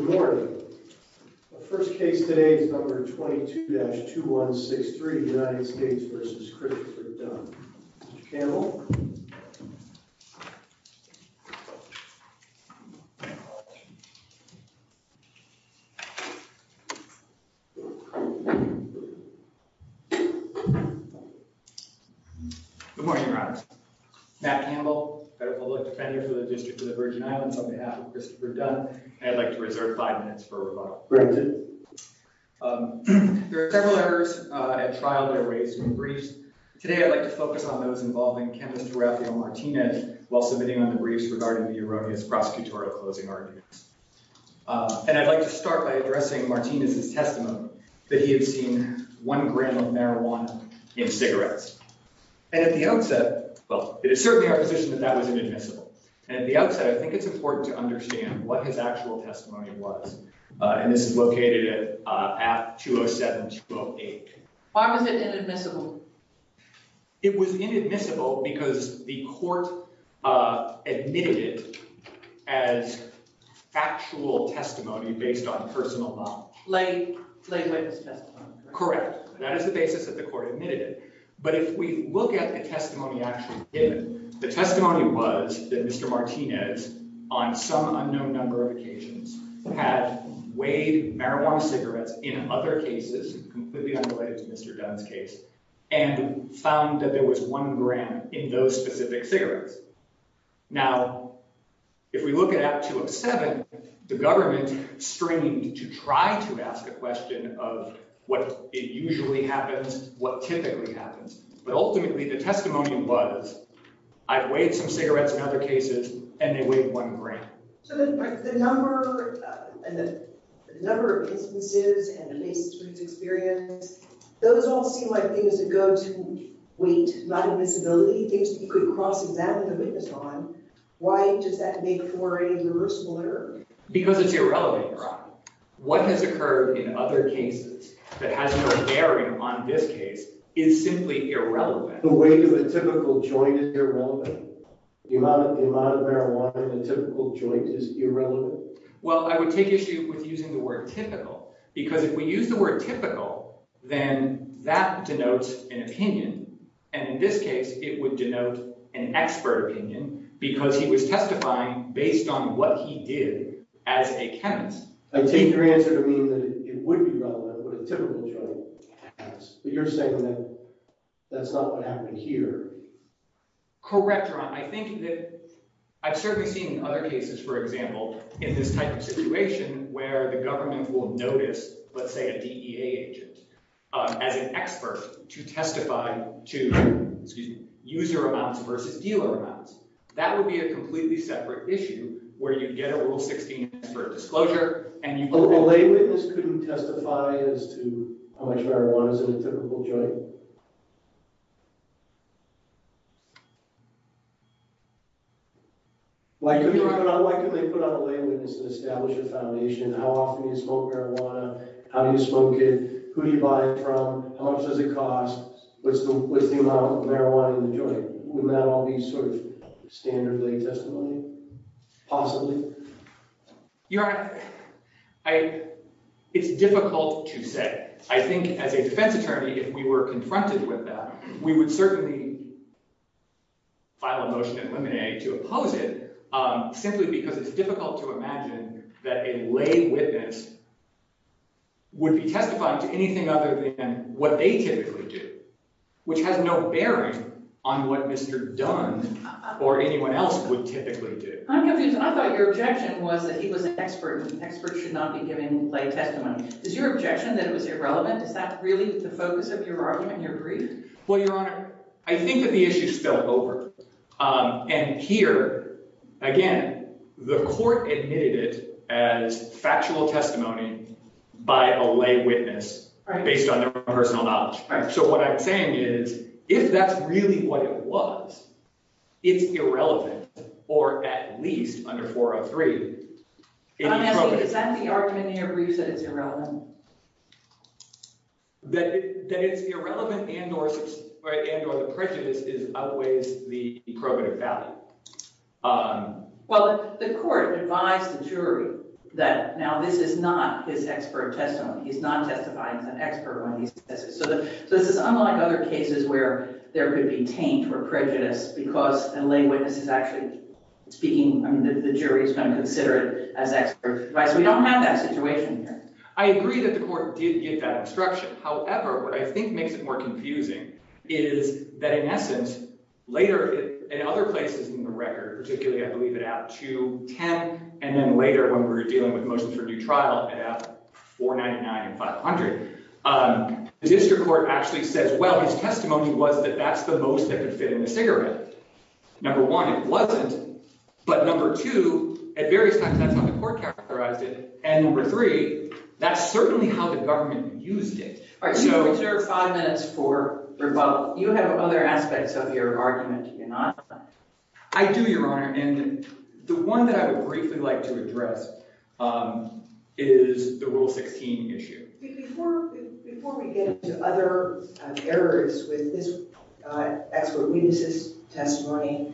Good morning. The first case today is number 22-2163, United States v. Christopher Dunn. Mr. Campbell. Good morning, Your Honor. Matt Campbell, Federal Public Defender for the District of the Virgin Islands. On behalf of Christopher Dunn, I'd like to reserve five minutes for rebuttal. There are several errors at trial that are raised in the briefs. Today, I'd like to focus on those involving Candace D'Orazio Martinez while submitting on the briefs regarding the erroneous prosecutorial closing arguments. And I'd like to start by addressing Martinez's testimony that he had seen one gram of marijuana in cigarettes. And at the outset, well, it is certainly our position that that was inadmissible. And at the outset, I think it's important to understand what his actual testimony was. And this is located at 207-208. Why was it inadmissible? It was inadmissible because the court admitted it as factual testimony based on personal knowledge. Late witness testimony. Correct. And that is the basis that the court admitted it. But if we look at the testimony actually given, the testimony was that Mr. Martinez, on some unknown number of occasions, had weighed marijuana cigarettes in other cases, completely unrelated to Mr. Dunn's case, and found that there was one gram in those specific cigarettes. Now, if we look at Act 2 of 7, the government strained to try to ask a question of what usually happens, what typically happens. But ultimately, the testimony was, I've weighed some cigarettes in other cases, and they weighed one gram. So the number of instances and the basis for his experience, those all seem like things that go to weight inadmissibility. You could cross-examine the witness on. Why does that make for a reversible error? Because it's irrelevant. What has occurred in other cases that has no bearing on this case is simply irrelevant. The weight of the typical joint is irrelevant. The amount of marijuana in a typical joint is irrelevant. Well, I would take issue with using the word typical, because if we use the word typical, then that denotes an opinion. And in this case, it would denote an expert opinion, because he was testifying based on what he did as a chemist. I take your answer to mean that it would be relevant, but a typical joint has. But you're saying that that's not what happened here. Correct, Ron. I think that I've certainly seen other cases, for example, in this type of situation where the government will notice, let's say, a DEA agent, as an expert, to testify to user amounts versus dealer amounts. That would be a completely separate issue where you get a Rule 16 expert disclosure, and you— So a lay witness couldn't testify as to how much marijuana is in a typical joint? Why couldn't they put out a lay witness and establish a foundation? How often do you smoke marijuana? How do you smoke it? Who do you buy it from? How much does it cost? What's the amount of marijuana in the joint? Wouldn't that all be sort of standard lay testimony, possibly? You know, it's difficult to say. I think as a defense attorney, if we were confronted with that, we would certainly file a motion in limine to oppose it, simply because it's difficult to imagine that a lay witness would be testifying to anything other than what they typically do, which has no bearing on what Mr. Dunn or anyone else would typically do. I'm confused. I thought your objection was that he was an expert, and experts should not be giving lay testimony. Is your objection that it was irrelevant? Is that really the focus of your argument, your brief? Well, Your Honor, I think that the issue is still open. And here, again, the court admitted it as factual testimony by a lay witness based on their own personal knowledge. So what I'm saying is, if that's really what it was, it's irrelevant, or at least under 403. I'm asking, is that the argument in your brief that it's irrelevant? That it's irrelevant and or the prejudice is outweighs the probative value. Well, the court advised the jury that now this is not his expert testimony. He's not testifying as an expert when he says it. So this is unlike other cases where there could be taint or prejudice because a lay witness is actually speaking. I mean, the jury is going to consider it as expert advice. We don't have that situation here. I agree that the court did give that instruction. However, what I think makes it more confusing is that, in essence, later in other places in the record, particularly, I believe at App 210, and then later when we were dealing with motions for due trial at App 499 and 500, the district court actually says, well, his testimony was that that's the most that could fit in the cigarette. Number one, it wasn't. But number two, at various times, that's how the court characterized it. And number three, that's certainly how the government used it. All right, so we have five minutes for rebuttal. You have other aspects of your argument, do you not? I do, Your Honor, and the one that I would briefly like to address is the Rule 16 issue. Before we get into other errors with this expert witnesses' testimony,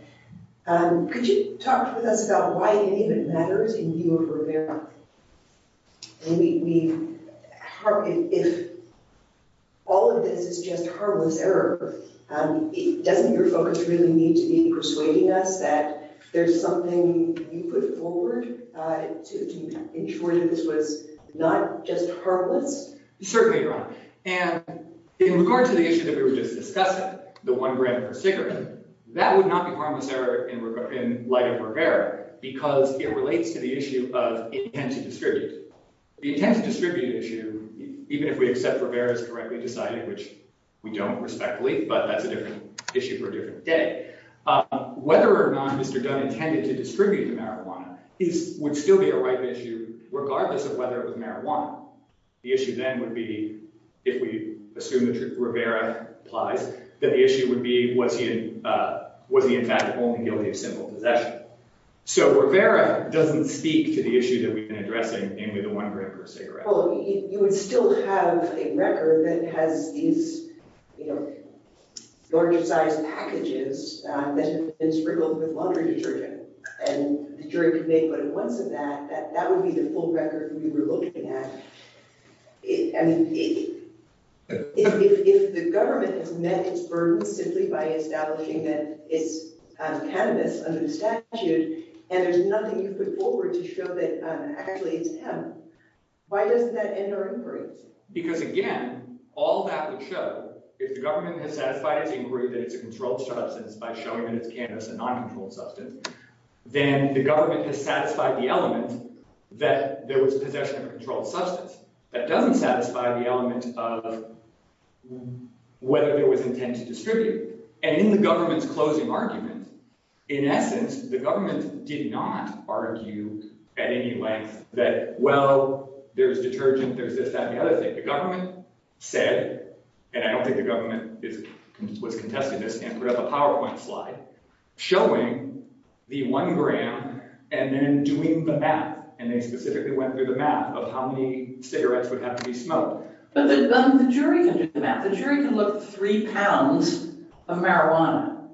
could you talk with us about why any of it matters in view of Rivera? If all of this is just harmless error, doesn't your focus really need to be persuading us that there's something you put forward to ensure that this was not just harmless? In regard to the issue that we were just discussing, the one brand per cigarette, that would not be harmless error in light of Rivera, because it relates to the issue of intent to distribute. The intent to distribute issue, even if we accept Rivera's correctly decided, which we don't respectfully, but that's a different issue for a different day. Whether or not Mr. Dunn intended to distribute the marijuana would still be a ripe issue, regardless of whether it was marijuana. The issue then would be, if we assume that Rivera applies, that the issue would be was he in fact only guilty of simple possession. So Rivera doesn't speak to the issue that we've been addressing, namely the one brand per cigarette. Well, you would still have a record that has these large-sized packages that have been sprinkled with laundry detergent, and the jury could make what it wants of that, that would be the full record we were looking at. If the government has met its burden simply by establishing that it's cannabis under the statute, and there's nothing you put forward to show that actually it's hemp, why doesn't that end our inquiry? Because again, all that would show, if the government has satisfied its inquiry that it's a controlled substance by showing that it's cannabis, a non-controlled substance, then the government has satisfied the element that there was possession of a controlled substance. That doesn't satisfy the element of whether there was intent to distribute. And in the government's closing argument, in essence, the government did not argue at any length that, well, there's detergent, there's this, that, and the other thing. The government said, and I don't think the government was contesting this and put up a PowerPoint slide, showing the one brand and then doing the math, and they specifically went through the math of how many cigarettes would have to be smoked. But the jury can do the math. The jury can look at three pounds of marijuana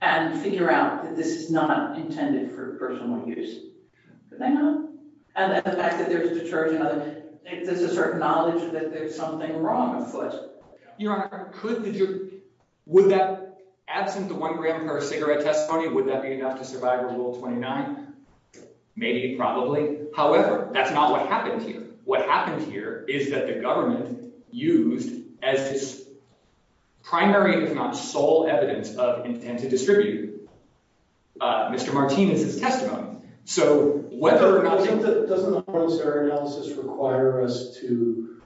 and figure out that this is not intended for personal use. And the fact that there's detergent, there's a certain knowledge that there's something wrong afoot. Your Honor, would that, absent the one brand per cigarette testimony, would that be enough to survive Rule 29? Maybe, probably. However, that's not what happened here. What happened here is that the government used as its primary, if not sole, evidence of intent to distribute Mr. Martinez's testimony. So whether or not— I think that—doesn't the Horne-Starr analysis require us to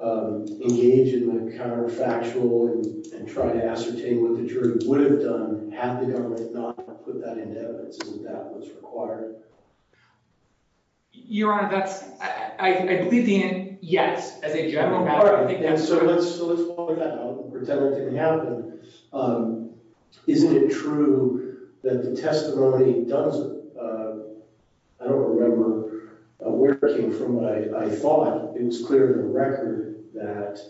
engage in the counterfactual and try to ascertain what the jury would have done had the government not put that in evidence? Isn't that what's required? Your Honor, that's—I believe the—yes, as a general matter. So let's follow that up and pretend it didn't happen. Isn't it true that the testimony, Dunn's—I don't remember where it came from, but I thought it was clear to the record that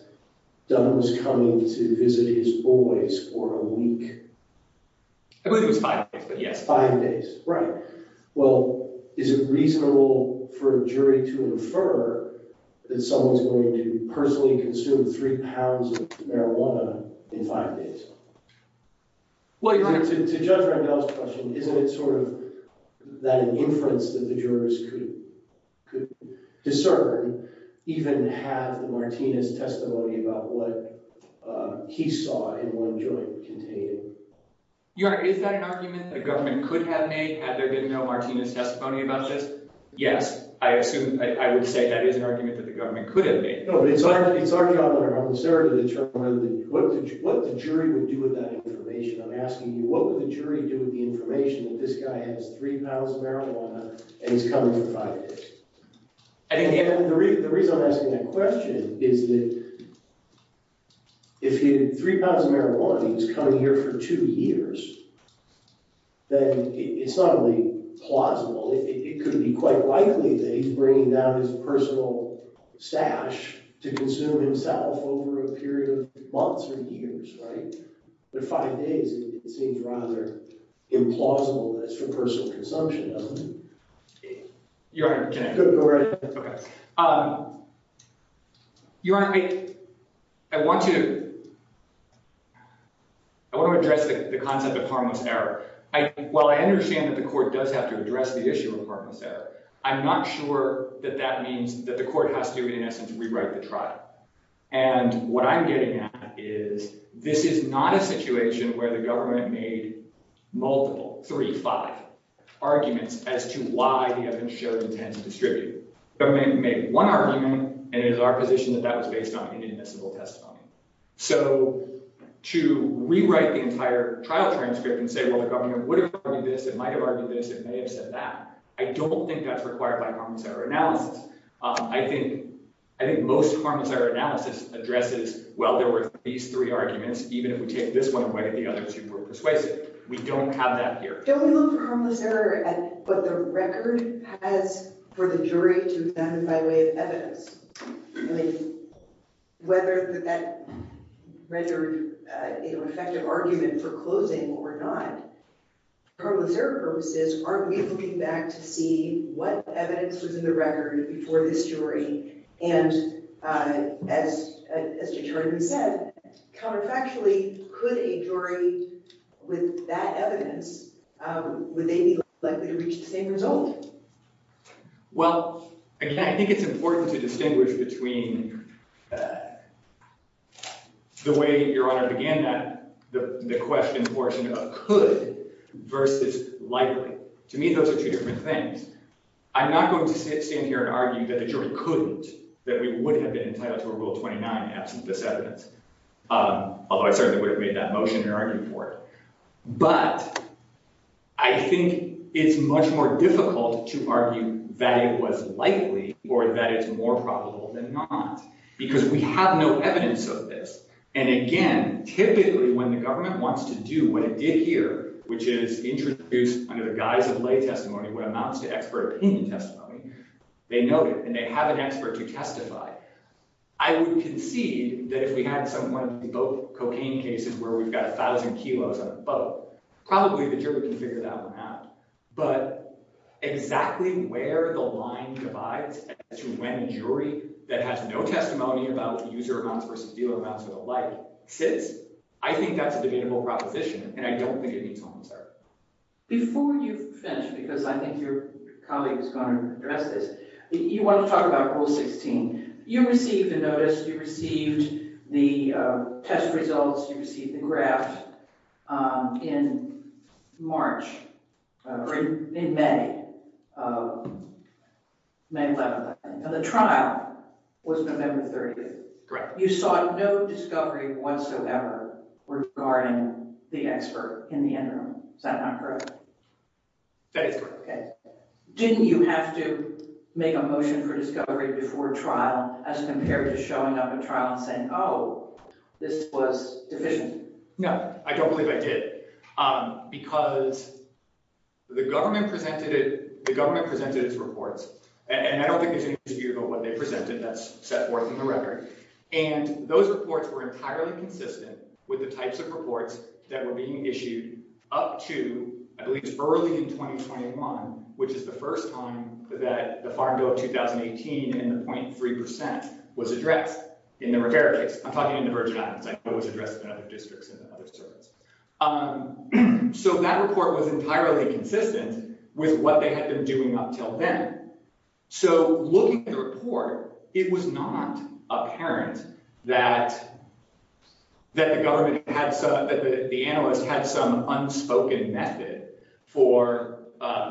Dunn was coming to visit his boys for a week. I believe it was five days, but yes. Right. Well, is it reasonable for a jury to infer that someone's going to personally consume three pounds of marijuana in five days? Well, Your Honor— To Judge Randall's question, isn't it sort of that inference that the jurors could discern, even have the Martinez testimony about what he saw in one joint contained? Your Honor, is that an argument that the government could have made had there been no Martinez testimony about this? Yes, I assume—I would say that is an argument that the government could have made. No, but it's our job—I'm concerned to determine what the jury would do with that information. I'm asking you, what would the jury do with the information that this guy has three pounds of marijuana and he's coming for five days? The reason I'm asking that question is that if he had three pounds of marijuana and he was coming here for two years, then it's not really plausible. It could be quite likely that he's bringing down his personal stash to consume himself over a period of months or years, right? But five days, it seems rather implausible as for personal consumption, doesn't it? Your Honor, can I— Go right ahead. Okay. Your Honor, I want to address the concept of harmless error. While I understand that the court does have to address the issue of harmless error, I'm not sure that that means that the court has to, in essence, rewrite the trial. And what I'm getting at is this is not a situation where the government made multiple—three, five—arguments as to why the evidence showed intent to distribute. The government made one argument, and it is our position that that was based on inadmissible testimony. So to rewrite the entire trial transcript and say, well, the government would have argued this, it might have argued this, it may have said that, I don't think that's required by harmless error analysis. I think most harmless error analysis addresses, well, there were these three arguments. Even if we take this one away, the other two were persuasive. We don't have that here. Don't we look for harmless error at what the record has for the jury to examine by way of evidence? I mean, whether that rendered an effective argument for closing or not, for harmless error purposes, aren't we looking back to see what evidence was in the record before this jury? And as Judge Harden said, counterfactually, could a jury, with that evidence, would they be likely to reach the same result? Well, again, I think it's important to distinguish between the way Your Honor began the question portion of could versus likely. To me, those are two different things. I'm not going to stand here and argue that the jury couldn't, that we would have been entitled to a Rule 29 absent this evidence, although I certainly would have made that motion and argued for it. But I think it's much more difficult to argue that it was likely or that it's more probable than not, because we have no evidence of this. And again, typically, when the government wants to do what it did here, which is introduce, under the guise of lay testimony, what amounts to expert opinion testimony, they note it, and they have an expert to testify. I would concede that if we had one of these boat cocaine cases where we've got 1,000 kilos on a boat, probably the jury can figure that one out. But exactly where the line divides as to when a jury that has no testimony about user amounts versus dealer amounts or the like sits, I think that's a debatable proposition, and I don't think it needs to be answered. Before you finish, because I think your colleague is going to address this, you want to talk about Rule 16. You received a notice. You received the test results. You received the graph in March, or in May, May 11th. And the trial was November 30th. Correct. You saw no discovery whatsoever regarding the expert in the interim. Is that not correct? That is correct. Okay. Didn't you have to make a motion for discovery before trial as compared to showing up at trial and saying, oh, this was deficient? No, I don't believe I did. Because the government presented its reports, and I don't think there's any dispute about what they presented. That's set forth in the record. And those reports were entirely consistent with the types of reports that were being issued up to at least early in 2021, which is the first time that the Farm Bill of 2018 and the 0.3% was addressed in the Rivera case. I'm talking in the Virgin Islands. I know it was addressed in other districts and other surveys. So that report was entirely consistent with what they had been doing up until then. So looking at the report, it was not apparent that the government had some – that the analysts had some unspoken method for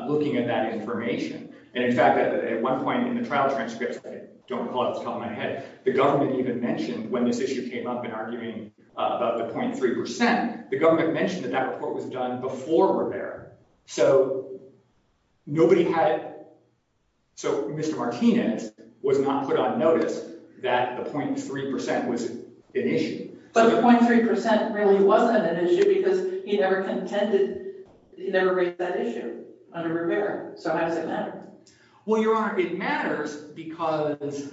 looking at that information. And in fact, at one point in the trial transcripts – I don't recall it off the top of my head – the government even mentioned when this issue came up in arguing about the 0.3%, the government mentioned that that report was done before Rivera. So nobody had – so Mr. Martinez was not put on notice that the 0.3% was an issue. But the 0.3% really wasn't an issue because he never contended – he never raised that issue under Rivera. So how does it matter? Well, Your Honor, it matters because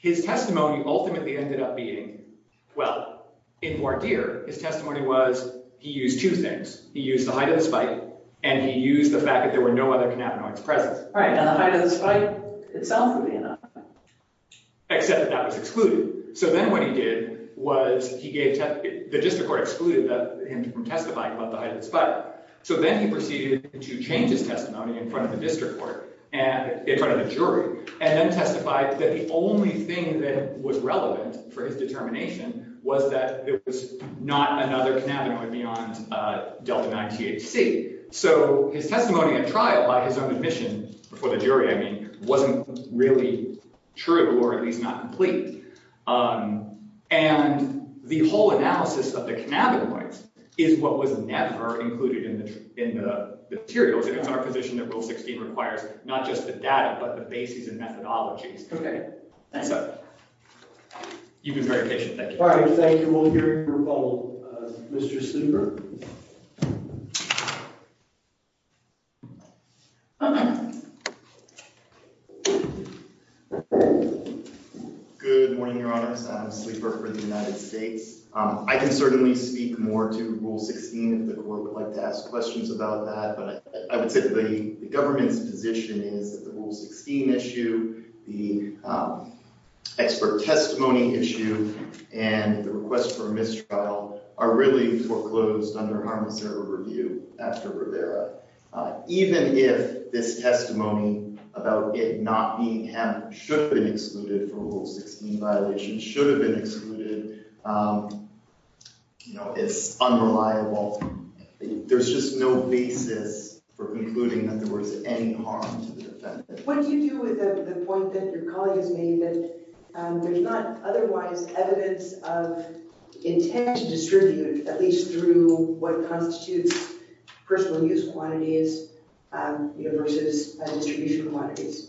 his testimony ultimately ended up being – well, in Lord Deere, his testimony was he used two things. He used the height of the spike and he used the fact that there were no other cannabinoids present. Right, and the height of the spike itself would be enough. Except that that was excluded. So then what he did was he gave – the district court excluded him from testifying about the height of the spike. So then he proceeded to change his testimony in front of the district court, in front of the jury, and then testified that the only thing that was relevant for his determination was that it was not another cannabinoid beyond delta-9-THC. So his testimony at trial by his own admission before the jury, I mean, wasn't really true or at least not complete. And the whole analysis of the cannabinoids is what was never included in the materials. And it's our position that Rule 16 requires not just the data but the basis and methodologies. Okay. So you've been very patient. Thank you. All right. Thank you. We'll hear from Mr. Sleeper. Good morning, Your Honors. I'm Sleeper for the United States. I can certainly speak more to Rule 16 if the court would like to ask questions about that. But I would say the government's position is that the Rule 16 issue, the expert testimony issue, and the request for mistrial are really foreclosed under harmless error review after Rivera. Even if this testimony about it not being should have been excluded for Rule 16 violations should have been excluded, you know, it's unreliable. There's just no basis for concluding that there was any harm to the defendant. What do you do with the point that your colleague has made that there's not otherwise evidence of intent to distribute, at least through what constitutes personal use quantities versus distribution quantities?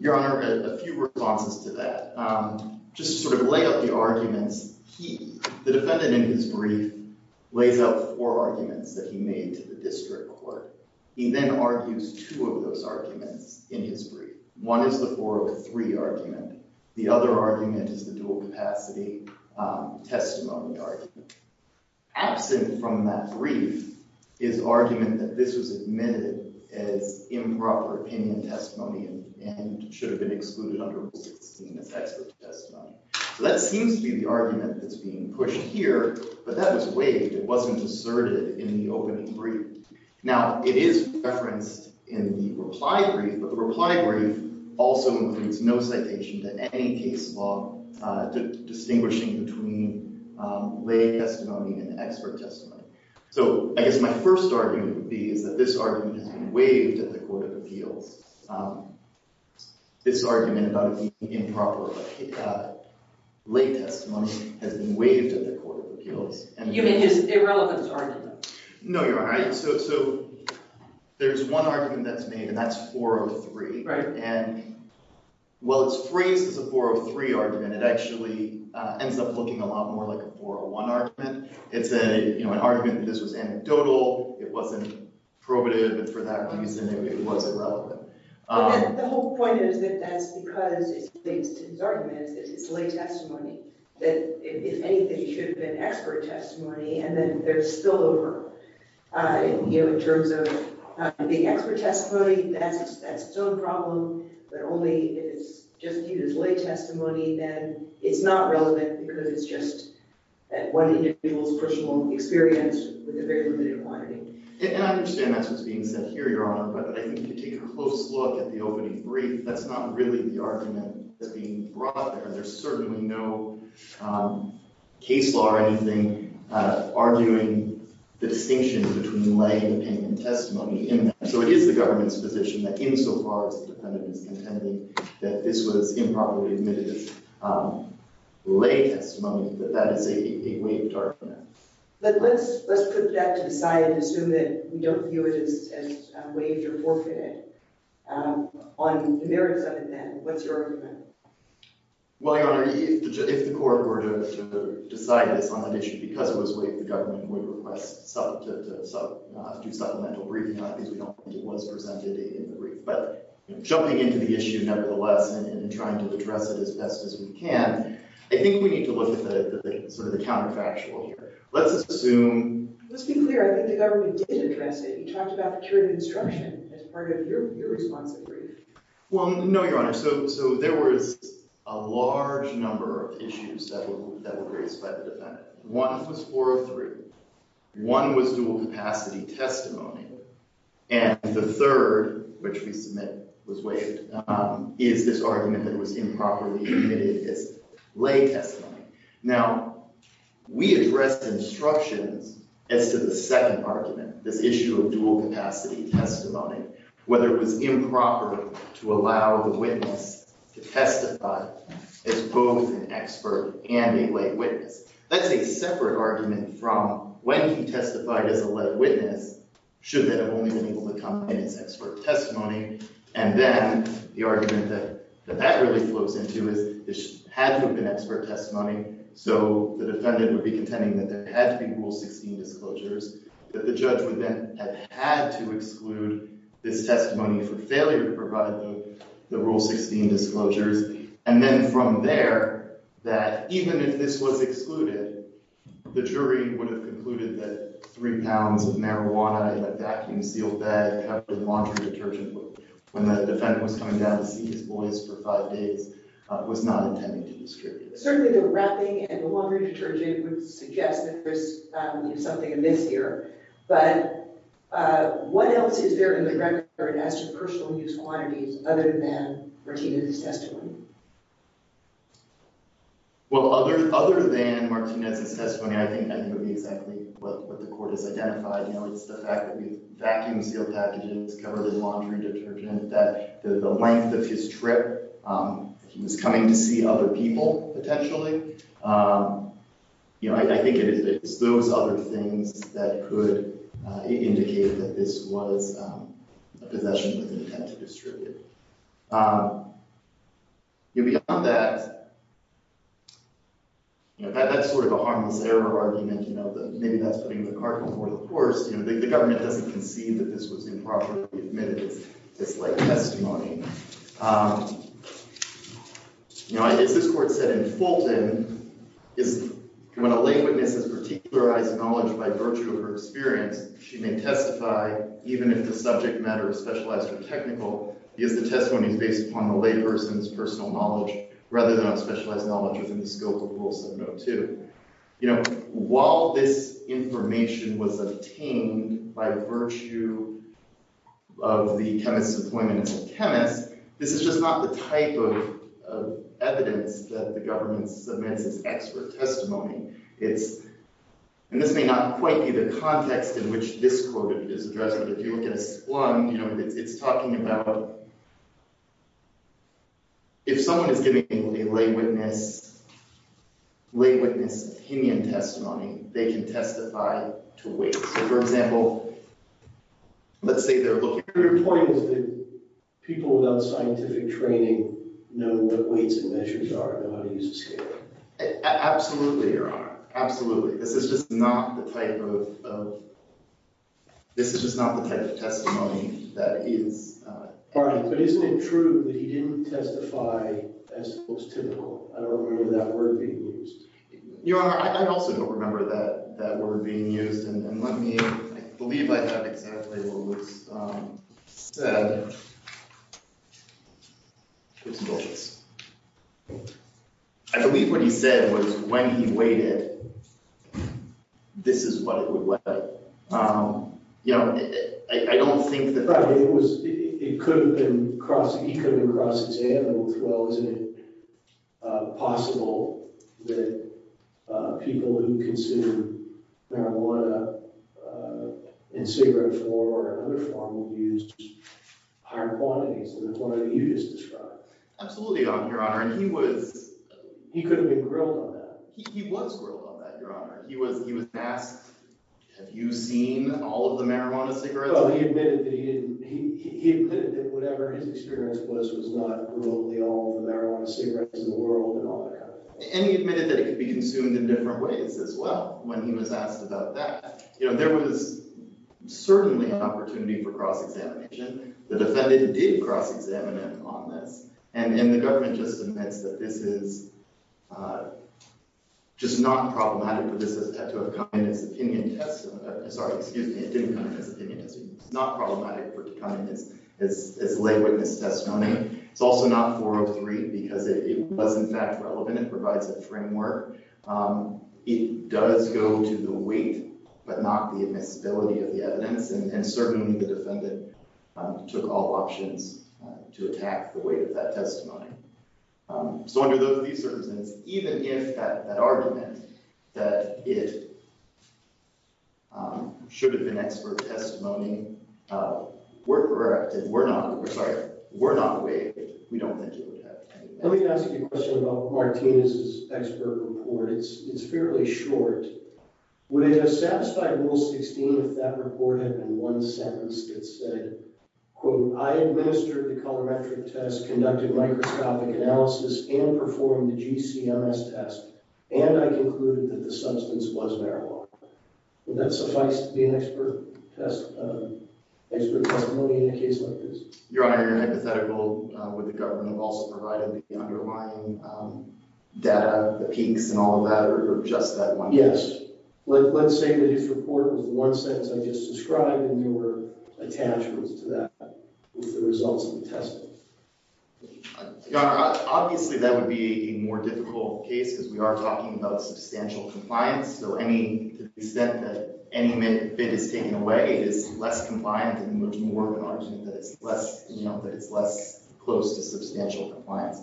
Your Honor, a few responses to that. Just to sort of lay out the arguments, the defendant in his brief lays out four arguments that he made to the district court. He then argues two of those arguments in his brief. One is the 403 argument. The other argument is the dual capacity testimony argument. Absent from that brief is argument that this was admitted as improper opinion testimony and should have been excluded under Rule 16 as expert testimony. So that seems to be the argument that's being pushed here, but that was waived. It wasn't asserted in the opening brief. Now, it is referenced in the reply brief, but the reply brief also includes no citation to any case law distinguishing between lay testimony and expert testimony. So I guess my first argument would be is that this argument has been waived at the Court of Appeals. This argument about it being improper lay testimony has been waived at the Court of Appeals. You mean his irrelevance argument? No, Your Honor. So there's one argument that's made, and that's 403. Right. And while it's phrased as a 403 argument, it actually ends up looking a lot more like a 401 argument. It's an argument that this was anecdotal, it wasn't probative, and for that reason, it was irrelevant. The whole point is that that's because his argument is that it's lay testimony, that if anything, it should have been expert testimony, and then they're still over. In terms of the expert testimony, that's its own problem, but only if it's just viewed as lay testimony, then it's not relevant because it's just one individual's personal experience with a very limited quantity. And I understand that's what's being said here, Your Honor, but I think if you take a close look at the opening brief, that's not really the argument that's being brought there. There's certainly no case law or anything arguing the distinction between lay and opinion testimony in that. So it is the government's position that insofar as the defendant is contending that this was improperly admitted lay testimony, that that is a waived argument. But let's put that to the side and assume that we don't view it as waived or forfeited. On the merits of it, then, what's your argument? Well, Your Honor, if the court were to decide this on that issue because it was waived, the government would request to do supplemental briefing on it because we don't think it was presented in the brief. But jumping into the issue nevertheless and trying to address it as best as we can, I think we need to look at sort of the counterfactual here. Let's assume— Let's be clear. I think the government did address it. You talked about security instruction as part of your response to the brief. Well, no, Your Honor. So there was a large number of issues that were raised by the defendant. One was 403. One was dual-capacity testimony. And the third, which we submit was waived, is this argument that it was improperly admitted as lay testimony. Now, we addressed instructions as to the second argument, this issue of dual-capacity testimony, whether it was improper to allow the witness to testify as both an expert and a lay witness. That's a separate argument from when he testified as a lay witness, should that have only been able to come in as expert testimony. And then the argument that that really flows into is this had to have been expert testimony. So the defendant would be contending that there had to be Rule 16 disclosures, that the judge would then have had to exclude this testimony for failure to provide the Rule 16 disclosures. And then from there, that even if this was excluded, the jury would have concluded that three pounds of marijuana in a vacuum-sealed bag covered in laundry detergent when the defendant was coming down to see his boys for five days was not intended to be distributed. Certainly the wrapping and the laundry detergent would suggest that there's something amiss here. But what else is there in the record as to personal use quantities other than Martinez's testimony? Well, other than Martinez's testimony, I think that would be exactly what the court has identified. It's the fact that the vacuum-sealed packages covered in laundry detergent, that the length of his trip, he was coming to see other people potentially. I think it's those other things that could indicate that this was a possession with intent to distribute. Beyond that, that's sort of a harmless error argument, that maybe that's putting the cart before the horse. The government doesn't concede that this was improperly admitted as disliked testimony. As this court said in Fulton, when a lay witness has particularized knowledge by virtue of her experience, she may testify even if the subject matter is specialized or technical. Because the testimony is based upon the lay person's personal knowledge rather than on specialized knowledge within the scope of Rule 702. While this information was obtained by virtue of the chemist's appointment as a chemist, this is just not the type of evidence that the government submits as expert testimony. This may not quite be the context in which this court is addressing, but if you look at this one, it's talking about if someone is giving a lay witness opinion testimony, they can testify to weight. For example, let's say they're looking… Your point is that people without scientific training know what weights and measures are and how to use a scale. Absolutely, Your Honor. Absolutely. This is just not the type of testimony that is… Pardon me, but isn't it true that he didn't testify as was typical? I don't remember that word being used. Your Honor, I also don't remember that word being used, and let me… I believe I have exactly what was said. I believe what he said was when he weighed it, this is what it would weigh. You know, I don't think that… But it was… it could have been… he could have been crossing his hand with, well, isn't it possible that people who consume marijuana in cigarette form or another form would use higher quantities than the quantity you just described? Absolutely not, Your Honor, and he was… He could have been grilled on that. He was grilled on that, Your Honor. He was asked, have you seen all of the marijuana cigarettes? No, he admitted that he didn't. He admitted that whatever his experience was was not really all the marijuana cigarettes in the world and all that. And he admitted that it could be consumed in different ways as well when he was asked about that. You know, there was certainly an opportunity for cross-examination. The defendant did cross-examine him on this, and the government just admits that this is just not problematic for this to have come in as an opinion test. Sorry, excuse me. It didn't come in as an opinion test. It's not problematic for it to come in as a lay witness testimony. It's also not 403 because it was, in fact, relevant. It provides a framework. It does go to the weight but not the admissibility of the evidence, and certainly the defendant took all options to attack the weight of that testimony. So under those three circumstances, even if that argument that it should have been expert testimony were correct and were not weight, we don't think it would have any effect. Let me ask you a question about Martinez's expert report. It's fairly short. Would it have satisfied Rule 16 if that report had been one sentence that said, quote, I administered the colorimetric test, conducted microscopic analysis, and performed the GCMS test, and I concluded that the substance was marijuana? Would that suffice to be an expert testimony in a case like this? Your Honor, you're hypothetical. Would the government have also provided the underlying data, the peaks and all of that, or just that one piece? Yes. Let's say that his report was one sentence I just described, and there were attachments to that with the results of the testimony. Your Honor, obviously that would be a more difficult case because we are talking about substantial compliance. So to the extent that any bit is taken away is less compliant and much more of an argument that it's less close to substantial compliance.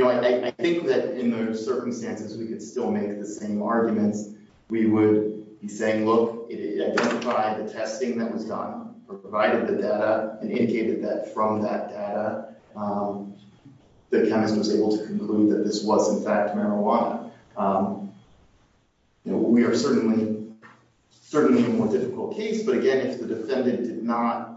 I think that in those circumstances, we could still make the same arguments. We would be saying, look, it identified the testing that was done or provided the data and indicated that from that data, the chemist was able to conclude that this was, in fact, marijuana. We are certainly a more difficult case, but again, if the defendant did not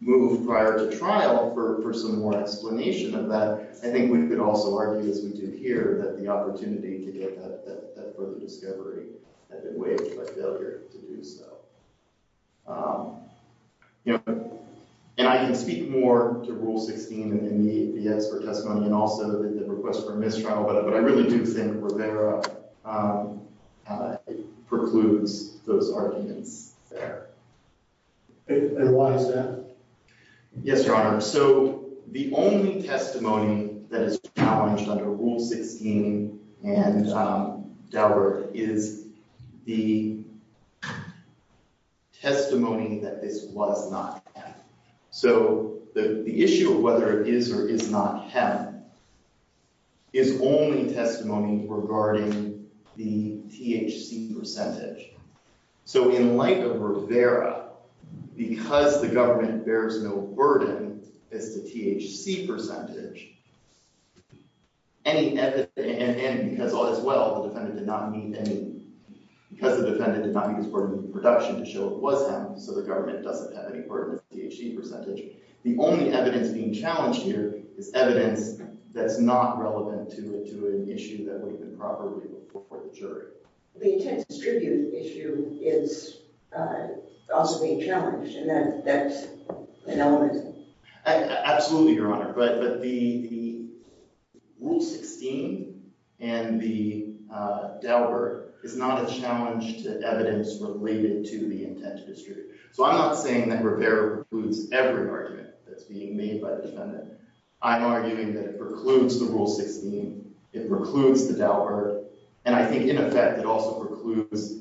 move prior to trial for some more explanation of that, I think we could also argue, as we do here, that the opportunity to get that further discovery had been waived by failure to do so. And I can speak more to Rule 16 in the expert testimony and also the request for mistrial, but I really do think Rivera precludes those arguments there. And why is that? Yes, Your Honor. So the only testimony that is challenged under Rule 16 and Daubert is the testimony that this was not hemp. So the issue of whether it is or is not hemp is only testimony regarding the THC percentage. So in light of Rivera, because the government bears no burden as to THC percentage, and because, as well, the defendant did not meet any – because the defendant did not meet his burden of production to show it was hemp, so the government doesn't have any burden of THC percentage, the only evidence being challenged here is evidence that's not relevant to an issue that we can properly report to the jury. The intent to distribute issue is also being challenged, and that's an element. Absolutely, Your Honor. But the Rule 16 and the Daubert is not a challenge to evidence related to the intent to distribute. So I'm not saying that Rivera precludes every argument that's being made by the defendant. I'm arguing that it precludes the Rule 16, it precludes the Daubert, and I think, in effect, it also precludes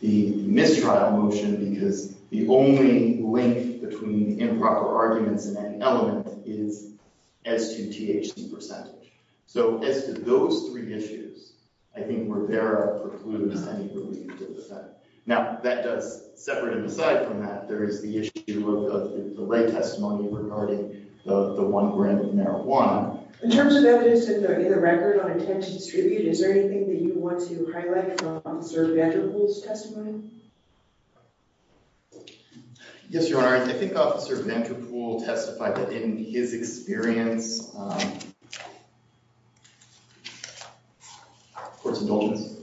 the mistrial motion because the only link between improper arguments and that element is as to THC percentage. So as to those three issues, I think Rivera precludes any relief to the defendant. Now, that does separate him aside from that. There is the issue of the lay testimony regarding the one brand of marijuana. In terms of evidence in the record on intent to distribute, is there anything that you want to highlight from Officer Venterpool's testimony? Yes, Your Honor. I think Officer Venterpool testified that in his experience – Court's indulgence.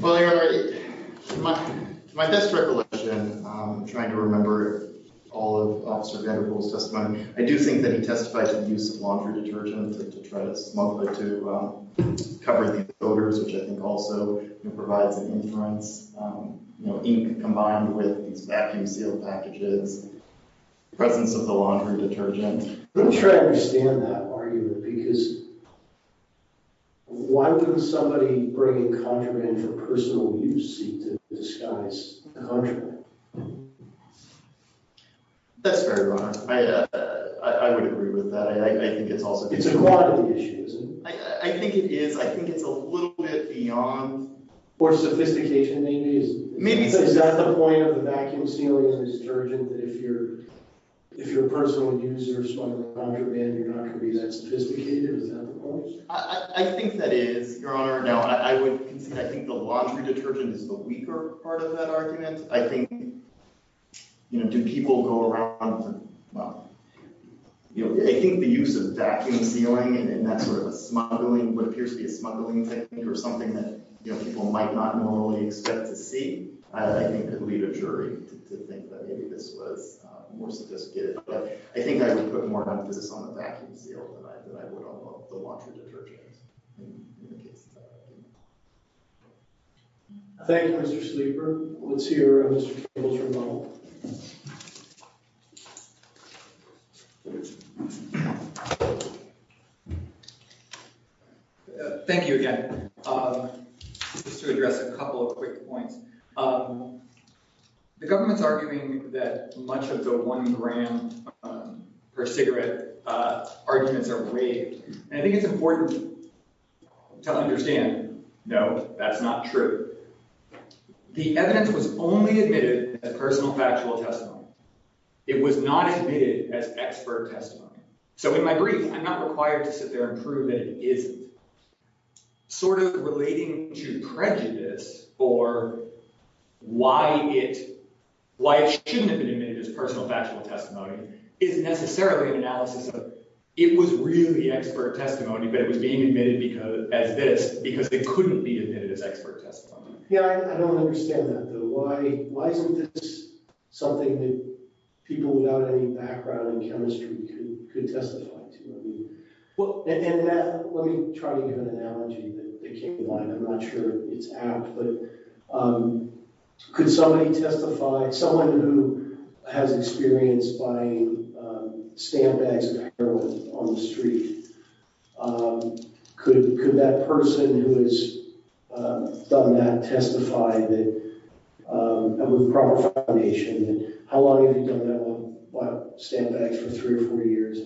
Well, Your Honor, to my best recollection, I'm trying to remember all of Officer Venterpool's testimony. I do think that he testified to the use of laundry detergent to try to smuggle it to cover the odors, which I think also provides an inference. You know, ink combined with these vacuum sealed packages, the presence of the laundry detergent. I'm not sure I understand that argument because why would somebody bringing contraband for personal use seek to disguise contraband? That's fair, Your Honor. I would agree with that. I think it's also – It's a quality issue, isn't it? I think it is. I think it's a little bit beyond – More sophistication, maybe? Maybe. Is that the point of the vacuum sealing and the detergent that if you're a personal user smuggling contraband, you're not going to be that sophisticated? Is that the point? I think that is, Your Honor. Now, I would – I think the laundry detergent is the weaker part of that argument. I think, you know, do people go around – well, you know, I think the use of vacuum sealing and that sort of smuggling, what appears to be a smuggling technique or something that, you know, people might not normally expect to see, I think could lead a jury to think that maybe this was more sophisticated. But I think I would put more emphasis on the vacuum seal than I would on the laundry detergent in the case of that argument. Thank you, Mr. Sleeper. Let's hear Mr. Kibble's rebuttal. Thank you again. Just to address a couple of quick points. The government's arguing that much of the one gram per cigarette arguments are raved. And I think it's important to understand, no, that's not true. The evidence was only admitted as personal factual testimony. It was not admitted as expert testimony. So in my brief, I'm not required to sit there and prove that it isn't. Sort of relating to prejudice for why it shouldn't have been admitted as personal factual testimony isn't necessarily an analysis of it was really expert testimony, but it was being admitted as this because it couldn't be admitted as expert testimony. Yeah, I don't understand that, though. Why isn't this something that people without any background in chemistry could testify to? Let me try to give an analogy that came to mind. I'm not sure it's apt, but could somebody testify, someone who has experience buying stamp bags of heroin on the street, could that person who has done that testify with proper foundation? How long have you done that? Well, I've bought stamp bags for three or four years.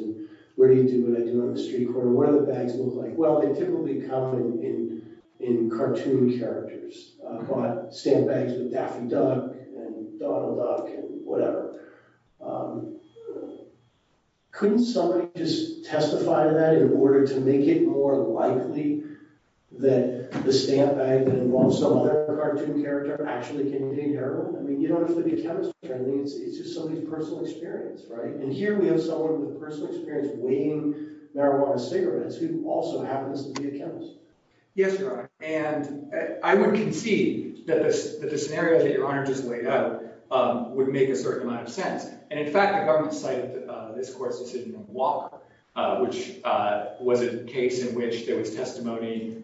Where do you do it? I do it on the street corner. What do the bags look like? Well, they typically come in cartoon characters. I've bought stamp bags with Daffy Duck and Donald Duck and whatever. Couldn't somebody just testify to that in order to make it more likely that the stamp bag that involves some other cartoon character actually contained heroin? You don't have to be a chemist. It's just somebody's personal experience, right? And here we have someone with personal experience weighing marijuana cigarettes who also happens to be a chemist. Yes, Your Honor, and I would concede that the scenario that Your Honor just laid out would make a certain amount of sense. And in fact, the government cited this court's decision in Walker, which was a case in which there was testimony,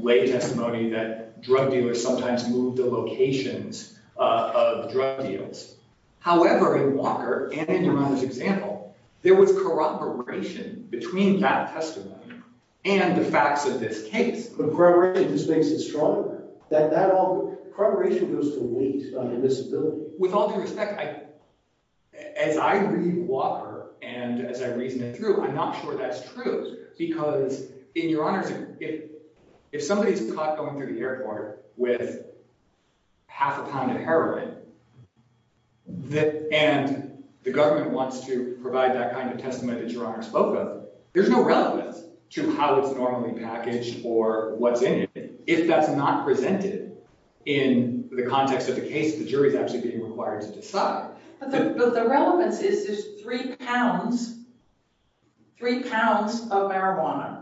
lay testimony, that drug dealers sometimes move the locations of drug deals. However, in Walker and in Your Honor's example, there was corroboration between that testimony and the facts of this case. But corroboration just makes it stronger? Corroboration goes to weight on invisibility. With all due respect, as I read Walker and as I reasoned it through, I'm not sure that's true. Because in Your Honor's example, if somebody is caught going through the airport with half a pound of heroin and the government wants to provide that kind of testimony that Your Honor spoke of, there's no relevance to how it's normally packaged or what's in it. If that's not presented in the context of the case, the jury is actually being required to decide. But the relevance is there's three pounds, three pounds of marijuana.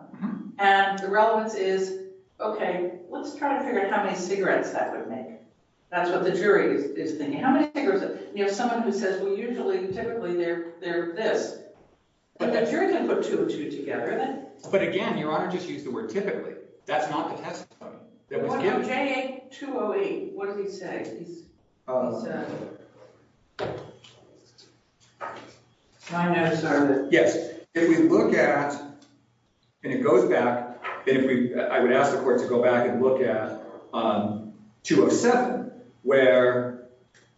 And the relevance is, OK, let's try to figure out how many cigarettes that would make. That's what the jury is thinking. How many cigarettes? You have someone who says, well, usually, typically, they're this. But the jury can put two and two together. But again, Your Honor just used the word typically. That's not the testimony that was given. Well, J.A. 208, what does he say? Yes. If we look at and it goes back, I would ask the court to go back and look at 207, where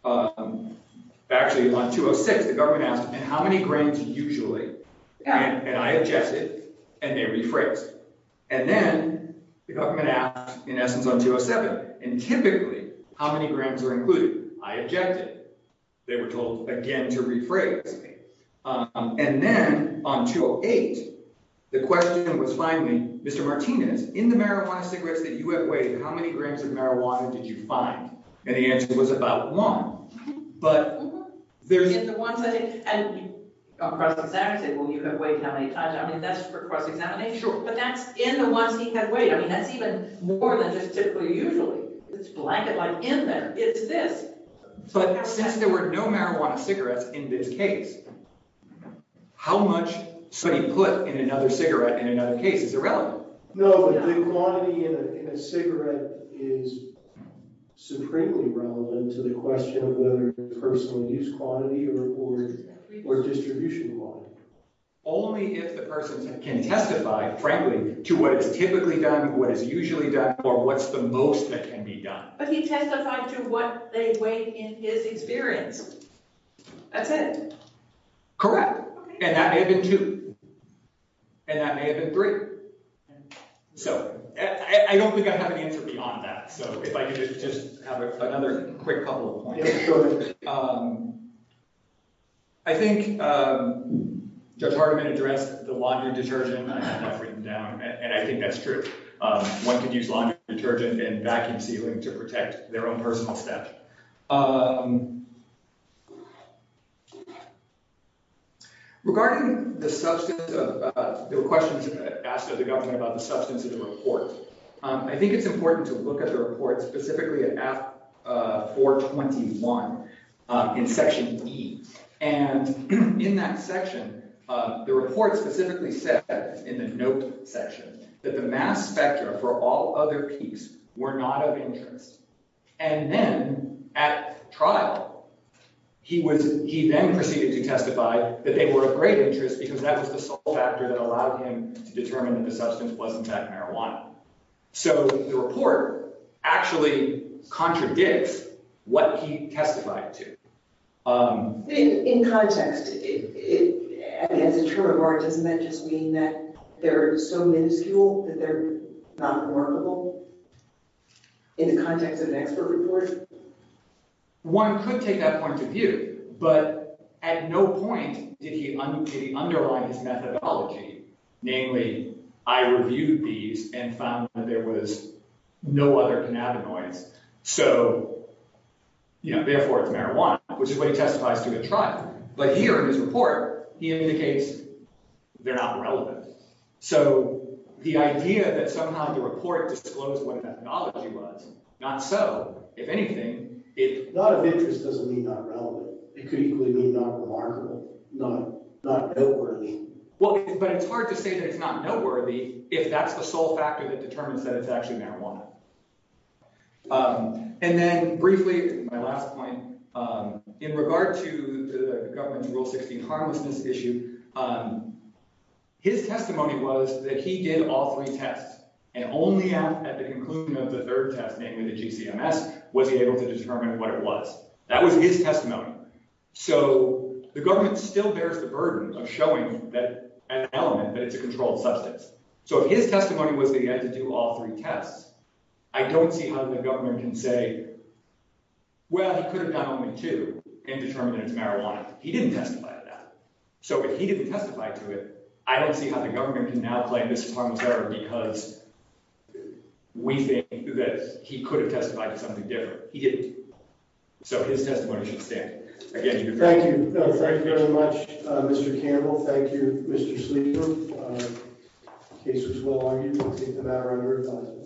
actually on 206, the government asked, how many grams usually? And I objected and they rephrased. And then the government asked, in essence, on 207, and typically, how many grams are included? I objected. They were told again to rephrase. And then on 208, the question was finally, Mr. Martinez, in the marijuana cigarettes that you have weighed, how many grams of marijuana did you find? And the answer was about one. But that's in the ones he had weighed. I mean, that's even more than just typically usually. It's blanket-like in there. It's this. But since there were no marijuana cigarettes in this case, how much should he put in another cigarette in another case is irrelevant. No, but the quantity in a cigarette is supremely relevant to the question of whether it's personal use quantity or distribution quantity. Only if the person can testify, frankly, to what is typically done, what is usually done, or what's the most that can be done. But he testified to what they weighed in his experience. That's it. Correct. And that may have been two. And that may have been three. So I don't think I have an answer beyond that. So if I could just have another quick couple of points. I think Judge Hardiman addressed the laundry detergent. And I think that's true. One could use laundry detergent and vacuum sealing to protect their own personal stuff. Regarding the substance of the questions asked of the government about the substance of the report, I think it's important to look at the report specifically at 423. In Section E. And in that section, the report specifically said in the note section that the mass spectra for all other peaks were not of interest. And then at trial, he was he then proceeded to testify that they were of great interest because that was the sole factor that allowed him to determine that the substance wasn't that marijuana. So the report actually contradicts what he testified to. In context, as a term of art, doesn't that just mean that they're so minuscule that they're not remarkable in the context of an expert report? One could take that point of view, but at no point did he underline his methodology. Namely, I reviewed these and found that there was no other cannabinoids. So, you know, therefore, it's marijuana, which is what he testifies to at trial. But here in his report, he indicates they're not relevant. So the idea that somehow the report disclosed what methodology was not so, if anything, if not of interest, doesn't mean not relevant. It could equally be not remarkable, not not noteworthy. Well, but it's hard to say that it's not noteworthy if that's the sole factor that determines that it's actually marijuana. And then briefly, my last point in regard to the government's Rule 16 harmlessness issue. His testimony was that he did all three tests and only at the conclusion of the third test, namely the GCMS, was he able to determine what it was. That was his testimony. So the government still bears the burden of showing that element that it's a controlled substance. So his testimony was that he had to do all three tests. I don't see how the government can say, well, he could have done only two and determined it's marijuana. He didn't testify to that. So he didn't testify to it. I don't see how the government can now play this part because we think that he could have testified to something different. He didn't. So his testimony. Thank you. Thank you very much, Mr. Campbell. Thank you, Mr. Sleeper. He says, well, I'm going to take the matter under.